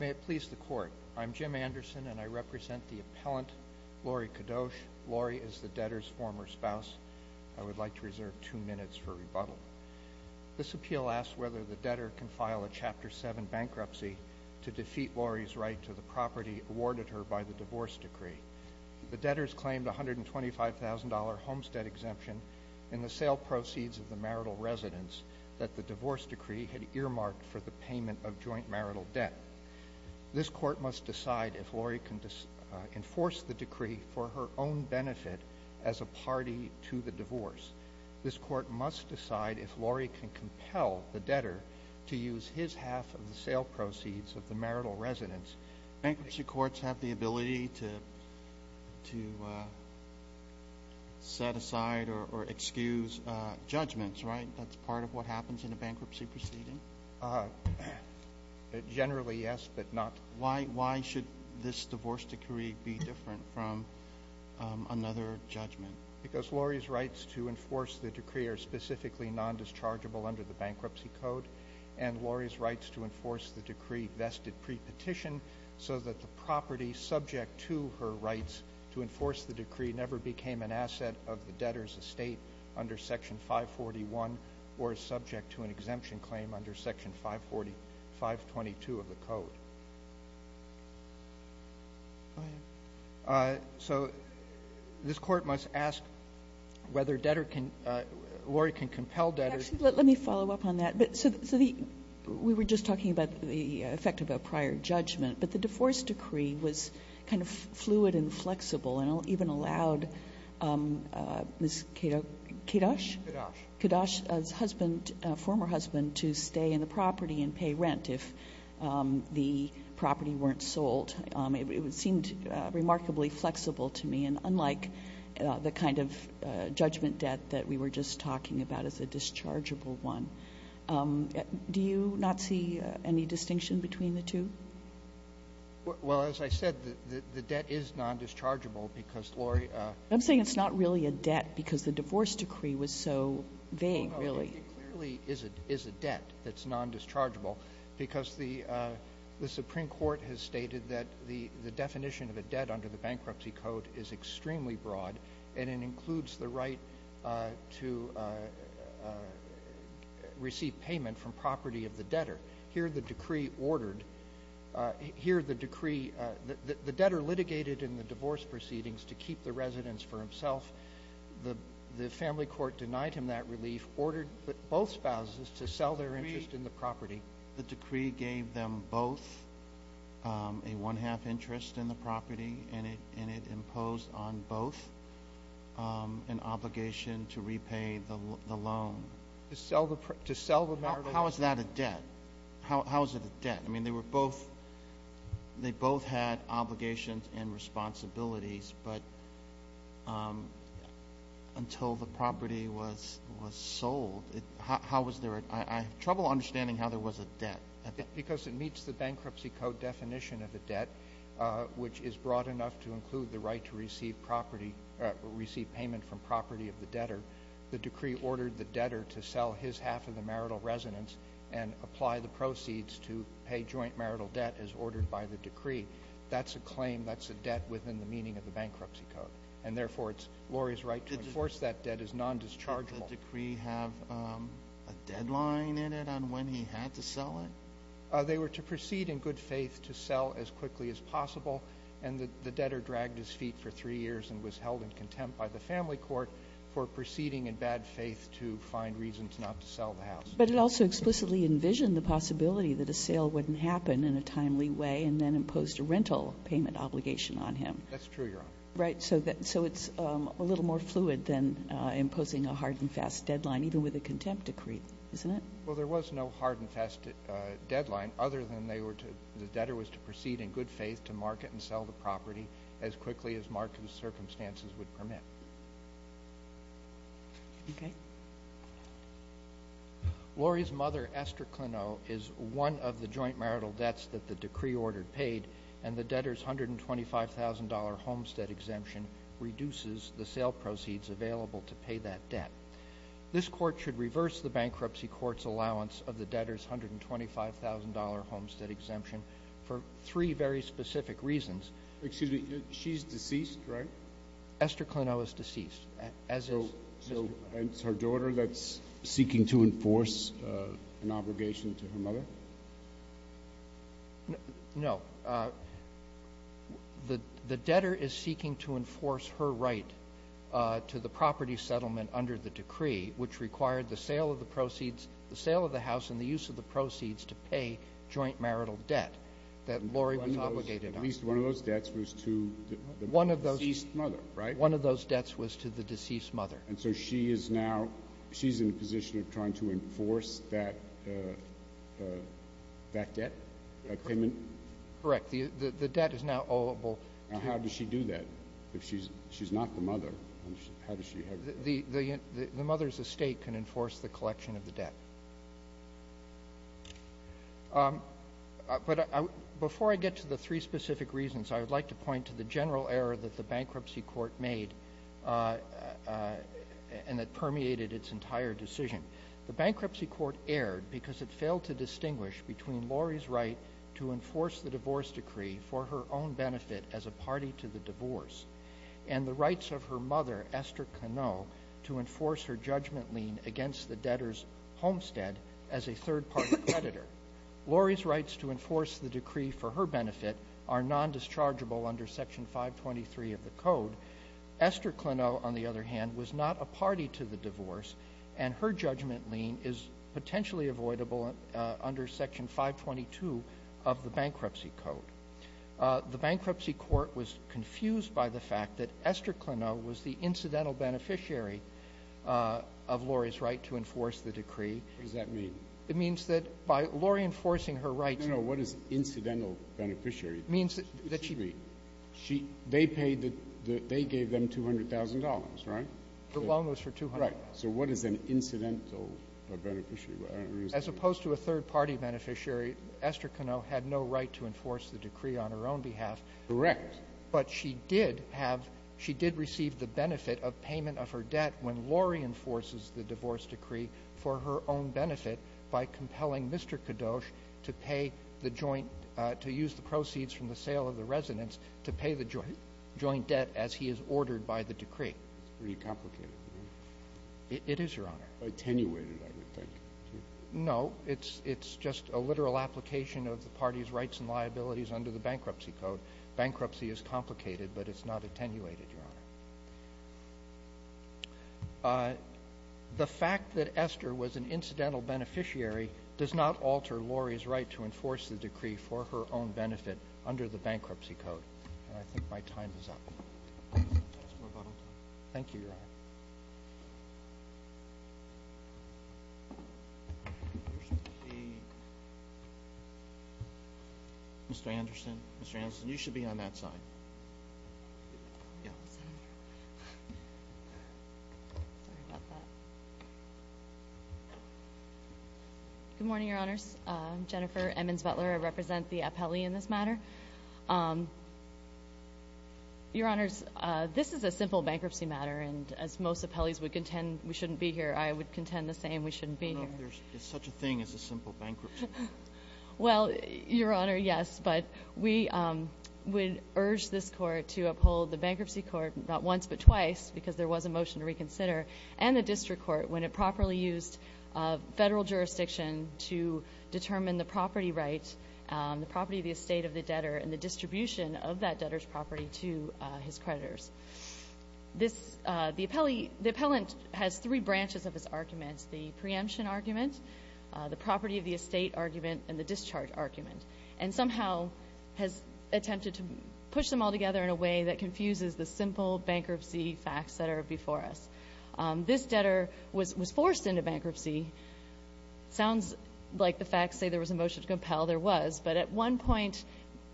May it please the Court, I'm Jim Anderson and I represent the appellant Lori Kadoch. Lori is the debtor's former spouse. I would like to reserve two minutes for rebuttal. This appeal asks whether the debtor can file a Chapter 7 bankruptcy to defeat Lori's right to the property awarded her by the divorce decree. The debtors claimed a $125,000 homestead exemption in the sale proceeds of the marital residence that the divorce decree had earmarked for the payment of joint marital debt. This Court must decide if Lori can enforce the decree for her own benefit as a party to the divorce. This Court must decide if Lori can compel the debtor to use his half of the sale proceeds of the marital residence. Bankruptcy courts have the ability to set aside or excuse judgments, right? That's part of what happens in a bankruptcy proceeding? Generally, yes, but not... Why should this divorce decree be different from another judgment? Because Lori's rights to enforce the decree are specifically non-dischargeable under the Bankruptcy Code and Lori's rights to enforce the decree vested pre-petition so that the property subject to her rights to enforce the decree never became an asset of the debtor's estate under Section 541 or is subject to an exemption claim under Section 540, 522 of the Code. So this Court must ask whether debtor can, Lori can compel debtor... We were just talking about the effect of a prior judgment, but the divorce decree was kind of fluid and flexible and even allowed Ms. Kedosh? Kedosh. Kedosh's husband, former husband, to stay in the property and pay rent if the property weren't sold. It seemed remarkably flexible to me, and unlike the kind of judgment debt that we were just talking about as a dischargeable one. Do you not see any distinction between the two? Well, as I said, the debt is non-dischargeable because Lori... I'm saying it's not really a debt because the divorce decree was so vague, really. I think it clearly is a debt that's non-dischargeable because the Supreme Court has stated that the definition of a debt under the Bankruptcy Code is extremely broad, and it includes the right to receive payment from property of the debtor. Here the decree ordered, here the decree, the debtor litigated in the divorce proceedings to keep the residence for himself. The family court denied him that relief, ordered both spouses to sell their interest in the property. The decree gave them both a one-half interest in the property, and it imposed on both an obligation to repay the loan. To sell the property. How is that a debt? How is it a debt? I mean, they both had obligations and responsibilities, but until the property was sold, how was there a... I have trouble understanding how there was a debt. Because it meets the Bankruptcy Code definition of a debt, which is broad enough to include the right to receive payment from property of the debtor. The decree ordered the debtor to sell his half of the marital residence and apply the proceeds to pay joint marital debt as ordered by the decree. That's a claim, that's a debt within the meaning of the Bankruptcy Code. And therefore, it's Lori's right to enforce that debt as non-dischargeable. Did the decree have a deadline in it on when he had to sell it? They were to proceed in good faith to sell as quickly as possible, and the debtor dragged his feet for three years and was held in contempt by the family court for proceeding in bad faith to find reasons not to sell the house. But it also explicitly envisioned the possibility that a sale wouldn't happen in a timely way and then imposed a rental payment obligation on him. That's true, Your Honor. Right, so it's a little more fluid than imposing a hard and fast deadline, even with a contempt decree, isn't it? Well, there was no hard and fast deadline, other than the debtor was to proceed in good faith to market and sell the property as quickly as market circumstances would permit. Okay. Lori's mother, Esther Cleneau, is one of the joint marital debts that the decree ordered paid, and the debtor's $125,000 homestead exemption reduces the sale proceeds available to pay that debt. This court should reverse the bankruptcy court's allowance of the debtor's $125,000 homestead exemption for three very specific reasons. Excuse me. She's deceased, right? Esther Cleneau is deceased. So it's her daughter that's seeking to enforce an obligation to her mother? No. The debtor is seeking to enforce her right to the property settlement under the decree, which required the sale of the proceeds, the sale of the house and the use of the proceeds to pay joint marital debt that Lori was obligated on. At least one of those debts was to the deceased mother, right? One of those debts was to the deceased mother. And so she is now in a position of trying to enforce that debt payment? Correct. The debt is now oweable. How does she do that if she's not the mother? The mother's estate can enforce the collection of the debt. But before I get to the three specific reasons, I would like to point to the general error that the bankruptcy court made and that permeated its entire decision. The bankruptcy court erred because it failed to distinguish between Lori's right to enforce the divorce decree for her own benefit as a party to the divorce and the rights of her mother, Esther Cleneau, to enforce her judgment lien against the debtor's homestead as a third-party creditor. Lori's rights to enforce the decree for her benefit are nondischargeable under Section 523 of the code. Esther Cleneau, on the other hand, was not a party to the divorce, and her judgment lien is potentially avoidable under Section 522 of the bankruptcy code. The bankruptcy court was confused by the fact that Esther Cleneau was the incidental beneficiary of Lori's right to enforce the decree. What does that mean? It means that by Lori enforcing her rights. No, no. What is incidental beneficiary? It means that she. Excuse me. They gave them $200,000, right? The loan was for $200,000. Right. So what is an incidental beneficiary? As opposed to a third-party beneficiary, Esther Cleneau had no right to enforce the decree on her own behalf. Correct. But she did receive the benefit of payment of her debt when Lori enforces the divorce decree for her own benefit by compelling Mr. Kadosh to pay the joint, to use the proceeds from the sale of the residence to pay the joint debt as he is ordered by the decree. It's pretty complicated. It is, Your Honor. Attenuated, I would think. No. It's just a literal application of the party's rights and liabilities under the bankruptcy code. Bankruptcy is complicated, but it's not attenuated, Your Honor. The fact that Esther was an incidental beneficiary does not alter Lori's right to enforce the decree for her own benefit under the bankruptcy code. And I think my time is up. Thank you, Your Honor. Mr. Anderson. Mr. Anderson, you should be on that side. Yeah. Sorry about that. Good morning, Your Honors. I'm Jennifer Emmons Butler. I represent the appellee in this matter. Your Honors, this is a simple bankruptcy matter, and as most appellees would contend we shouldn't be here, I would contend the same. We shouldn't be here. I don't know if there's such a thing as a simple bankruptcy matter. Well, Your Honor, yes. But we would urge this court to uphold the bankruptcy court not once but twice, because there was a motion to reconsider, and the district court when it properly used federal jurisdiction to determine the property right, the property of the estate of the debtor, and the distribution of that debtor's property to his creditors. The appellant has three branches of his arguments, the preemption argument, the property of the estate argument, and the discharge argument. And somehow has attempted to push them all together in a way that confuses the simple bankruptcy facts that are before us. This debtor was forced into bankruptcy. Sounds like the facts say there was a motion to compel. There was. But at one point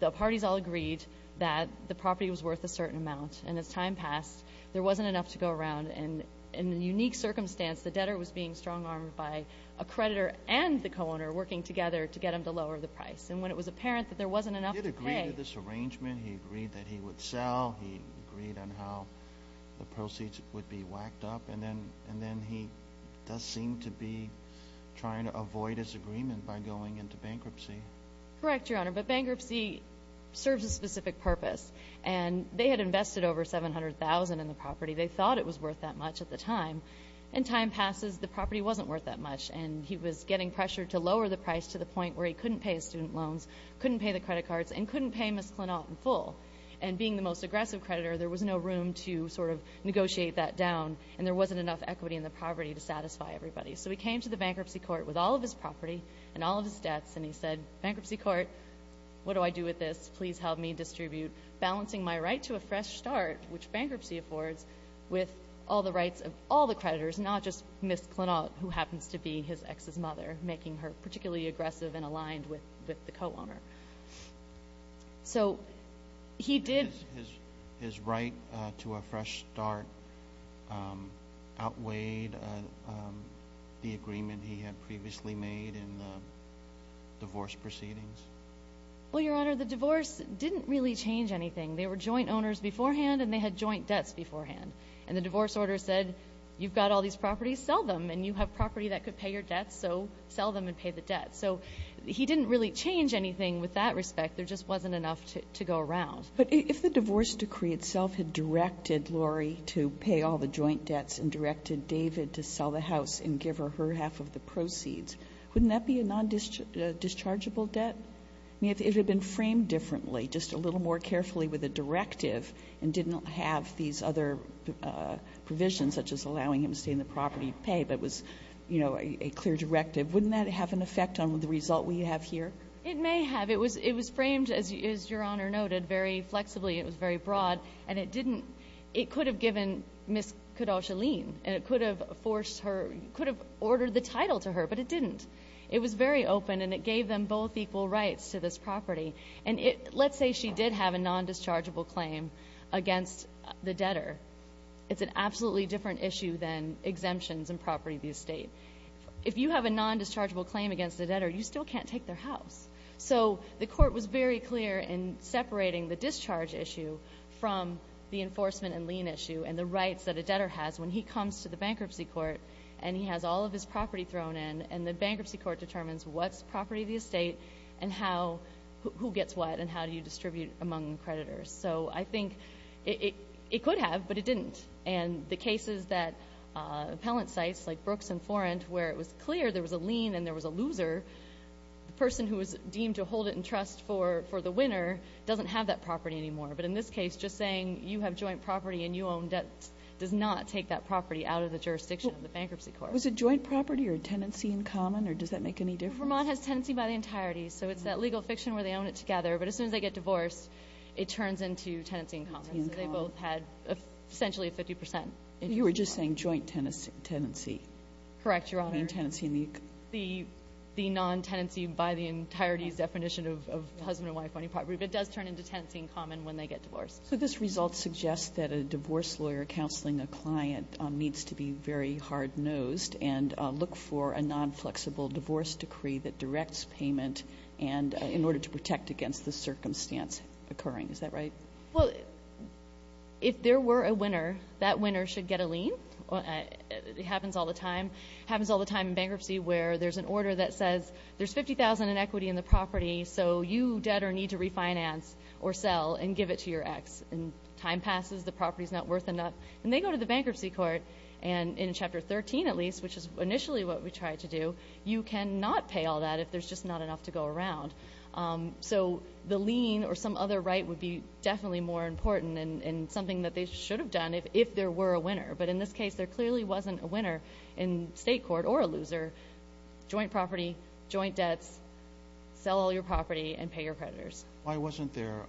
the parties all agreed that the property was worth a certain amount, and as time passed there wasn't enough to go around, and in a unique circumstance the debtor was being strong-armed by a creditor and the co-owner working together to get him to lower the price, and when it was apparent that there wasn't enough to pay. Did he agree to this arrangement? He agreed that he would sell. He agreed on how the proceeds would be whacked up, and then he does seem to be trying to avoid his agreement by going into bankruptcy. Correct, Your Honor, but bankruptcy serves a specific purpose, and they had invested over $700,000 in the property. They thought it was worth that much at the time, and time passes the property wasn't worth that much, and he was getting pressure to lower the price to the point where he couldn't pay his student loans, couldn't pay the credit cards, and couldn't pay Ms. Clennaught in full. And being the most aggressive creditor, there was no room to sort of negotiate that down, and there wasn't enough equity in the property to satisfy everybody. So he came to the bankruptcy court with all of his property and all of his debts, and he said, bankruptcy court, what do I do with this? Please help me distribute, balancing my right to a fresh start, which bankruptcy affords, with all the rights of all the creditors, not just Ms. Clennaught, who happens to be his ex's mother, making her particularly aggressive and aligned with the co-owner. So he did. His right to a fresh start outweighed the agreement he had previously made in the divorce proceedings? Well, Your Honor, the divorce didn't really change anything. They were joint owners beforehand, and they had joint debts beforehand. And the divorce order said, you've got all these properties, sell them, and you have property that could pay your debts, so sell them and pay the debts. So he didn't really change anything with that respect. There just wasn't enough to go around. But if the divorce decree itself had directed Lori to pay all the joint debts and directed David to sell the house and give her her half of the proceeds, wouldn't that be a non-dischargeable debt? I mean, if it had been framed differently, just a little more carefully with a directive and didn't have these other provisions, such as allowing him to stay in the property and pay, but was, you know, a clear directive, wouldn't that have an effect on the result we have here? It may have. It was framed, as Your Honor noted, very flexibly. It was very broad. And it didn't ñ it could have given Ms. Koudoshaline, and it could have ordered the title to her, but it didn't. It was very open, and it gave them both equal rights to this property. And let's say she did have a non-dischargeable claim against the debtor. It's an absolutely different issue than exemptions and property of the estate. If you have a non-dischargeable claim against a debtor, you still can't take their house. So the court was very clear in separating the discharge issue from the enforcement and lien issue and the rights that a debtor has when he comes to the bankruptcy court and he has all of his property thrown in, and the bankruptcy court determines what's property of the estate and who gets what and how do you distribute among creditors. So I think it could have, but it didn't. And the cases that appellant sites like Brooks and Forent, where it was clear there was a lien and there was a loser, the person who was deemed to hold it in trust for the winner doesn't have that property anymore. But in this case, just saying you have joint property and you own debt does not take that property out of the jurisdiction of the bankruptcy court. Was it joint property or tenancy in common, or does that make any difference? Vermont has tenancy by the entirety. So it's that legal fiction where they own it together, but as soon as they get divorced it turns into tenancy in common. So they both had essentially 50 percent. You were just saying joint tenancy. Correct, Your Honor. I mean tenancy in the entirety. The non-tenancy by the entirety definition of husband and wife owning property, but it does turn into tenancy in common when they get divorced. So this result suggests that a divorce lawyer counseling a client needs to be very hard-nosed and look for a non-flexible divorce decree that directs payment in order to protect against the circumstance occurring. Is that right? Well, if there were a winner, that winner should get a lien. It happens all the time. It happens all the time in bankruptcy where there's an order that says there's $50,000 in equity in the property, so you debtor need to refinance or sell and give it to your ex, and time passes, the property's not worth enough, and they go to the bankruptcy court, and in Chapter 13 at least, which is initially what we tried to do, you cannot pay all that if there's just not enough to go around. So the lien or some other right would be definitely more important and something that they should have done if there were a winner, but in this case there clearly wasn't a winner in state court or a loser. Joint property, joint debts, sell all your property and pay your creditors. Why wasn't there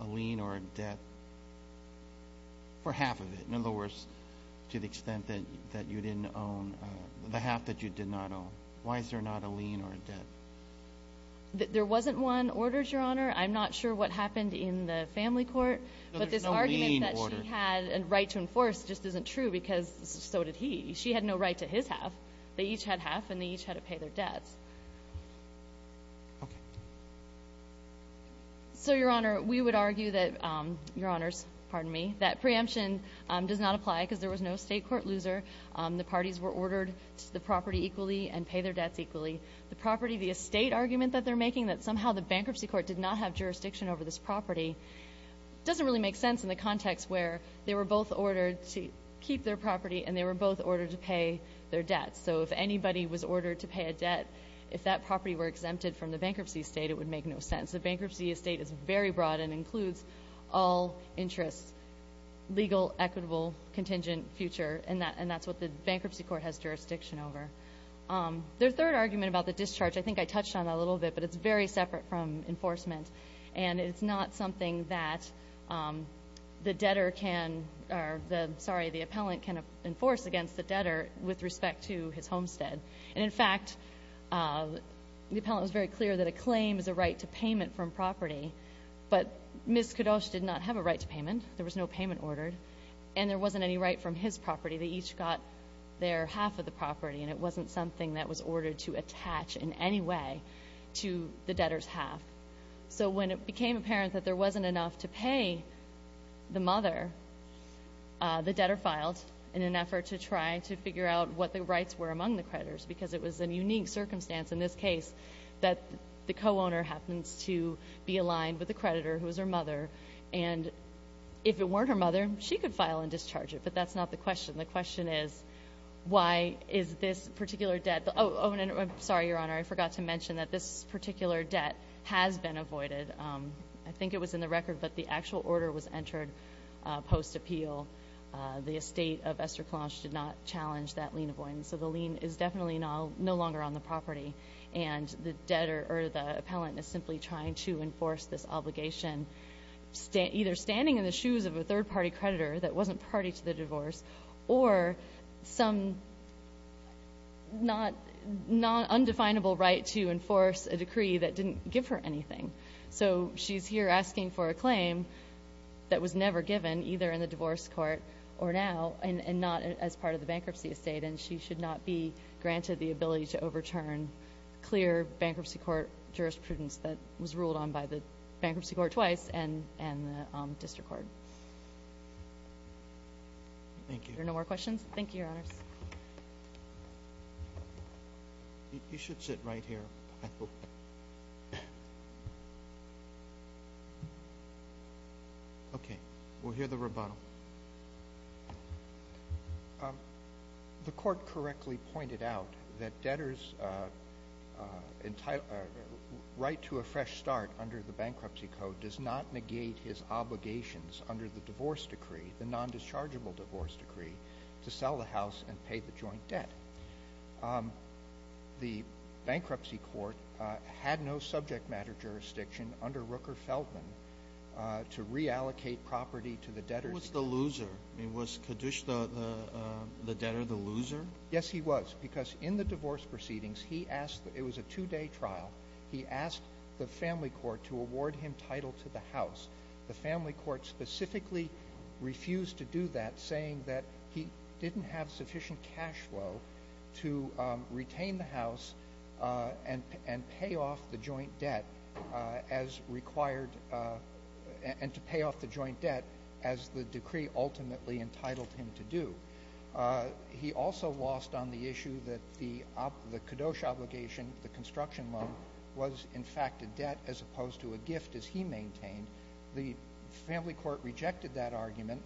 a lien or a debt for half of it? In other words, to the extent that you didn't own the half that you did not own. Why is there not a lien or a debt? There wasn't one ordered, Your Honor. I'm not sure what happened in the family court, but this argument that she had a right to enforce just isn't true because so did he. She had no right to his half. They each had half, and they each had to pay their debts. Okay. So, Your Honor, we would argue that, Your Honors, pardon me, that preemption does not apply because there was no state court loser. The parties were ordered to the property equally and pay their debts equally. The property, the estate argument that they're making, that somehow the bankruptcy court did not have jurisdiction over this property, doesn't really make sense in the context where they were both ordered to keep their property and they were both ordered to pay their debts. So if anybody was ordered to pay a debt, if that property were exempted from the bankruptcy estate, it would make no sense. The bankruptcy estate is very broad and includes all interests, legal, equitable, contingent, future, and that's what the bankruptcy court has jurisdiction over. Their third argument about the discharge, I think I touched on that a little bit, but it's very separate from enforcement, and it's not something that the debtor can, or, sorry, the appellant can enforce against the debtor with respect to his homestead. And, in fact, the appellant was very clear that a claim is a right to payment from property, but Ms. Kadosh did not have a right to payment. There was no payment ordered, and there wasn't any right from his property. They each got their half of the property, and it wasn't something that was ordered to attach in any way to the debtor's half. So when it became apparent that there wasn't enough to pay the mother, the debtor filed in an effort to try to figure out what the rights were among the creditors because it was a unique circumstance in this case that the co-owner happens to be aligned with the creditor, who was her mother, and if it weren't her mother, she could file and discharge it, but that's not the question. The question is, why is this particular debt? Oh, and I'm sorry, Your Honor, I forgot to mention that this particular debt has been avoided. I think it was in the record, but the actual order was entered post-appeal. The estate of Esther Kalanch did not challenge that lien avoidance, so the lien is definitely no longer on the property, and the debtor or the appellant is simply trying to enforce this obligation, either standing in the shoes of a third-party creditor that wasn't party to the divorce or some undefinable right to enforce a decree that didn't give her anything. So she's here asking for a claim that was never given, either in the divorce court or now, and not as part of the bankruptcy estate, and she should not be granted the ability to overturn clear bankruptcy court jurisprudence that was ruled on by the bankruptcy court twice and the district court. Thank you. Are there no more questions? Thank you, Your Honors. You should sit right here. Okay. We'll hear the rebuttal. The court correctly pointed out that debtors' right to a fresh start under the bankruptcy code does not negate his obligations under the divorce decree, the nondischargeable divorce decree, to sell the house and pay the joint debt. The bankruptcy court had no subject matter jurisdiction under Rooker-Feldman to reallocate property to the debtors. He was the loser. Was Kadush the debtor, the loser? Yes, he was, because in the divorce proceedings, it was a two-day trial. He asked the family court to award him title to the house. The family court specifically refused to do that, saying that he didn't have sufficient cash flow to retain the house and pay off the joint debt as required and to pay off the joint debt as the decree ultimately entitled him to do. He also lost on the issue that the Kadush obligation, the construction loan, was, in fact, a debt as opposed to a gift, as he maintained. The family court rejected that argument,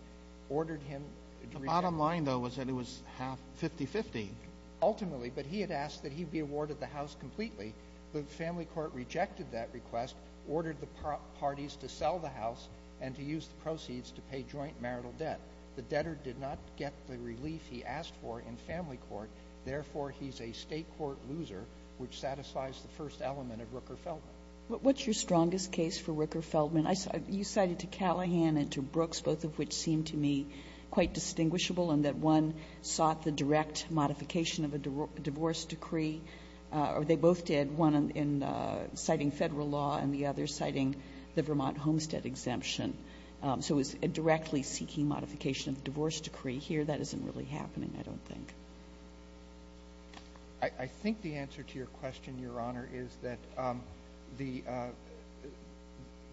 ordered him to repay. The bottom line, though, was that it was 50-50. Ultimately, but he had asked that he be awarded the house completely. The family court rejected that request, ordered the parties to sell the house and to use the proceeds to pay joint marital debt. The debtor did not get the relief he asked for in family court. Therefore, he's a State court loser, which satisfies the first element of Rooker-Feldman. What's your strongest case for Rooker-Feldman? You cited to Callahan and to Brooks, both of which seemed to me quite distinguishable in that one sought the direct modification of a divorce decree, or they both did, one citing Federal law and the other citing the Vermont homestead exemption. So it was a directly seeking modification of a divorce decree. Here, that isn't really happening, I don't think. I think the answer to your question, Your Honor, is that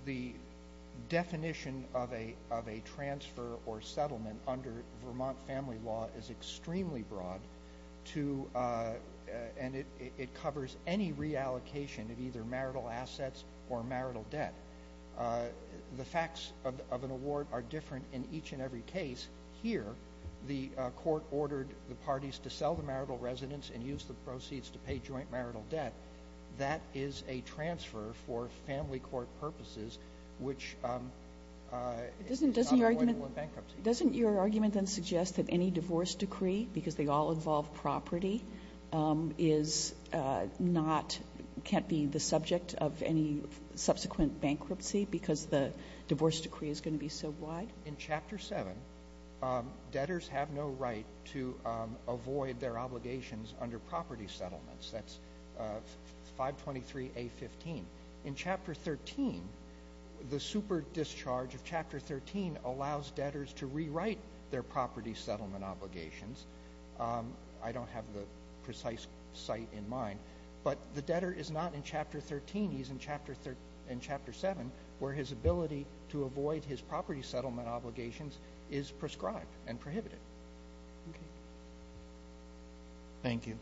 the definition of a transfer or settlement under Vermont family law is extremely broad, and it covers any reallocation of either marital assets or marital debt. The facts of an award are different in each and every case. Here, the court ordered the parties to sell the marital residence and use the proceeds to pay joint marital debt. That is a transfer for family court purposes, which is not avoidable in bankruptcy. Doesn't your argument then suggest that any divorce decree, because they all involve property, is not can't be the subject of any subsequent bankruptcy because the divorce decree is going to be so wide? In Chapter 7, debtors have no right to avoid their obligations under property settlements. That's 523A15. In Chapter 13, the superdischarge of Chapter 13 allows debtors to rewrite their property settlement obligations. I don't have the precise site in mind, but the debtor is not in Chapter 13. He's in Chapter 7, where his ability to avoid his property settlement obligations is prescribed and prohibited. Okay. Thank you.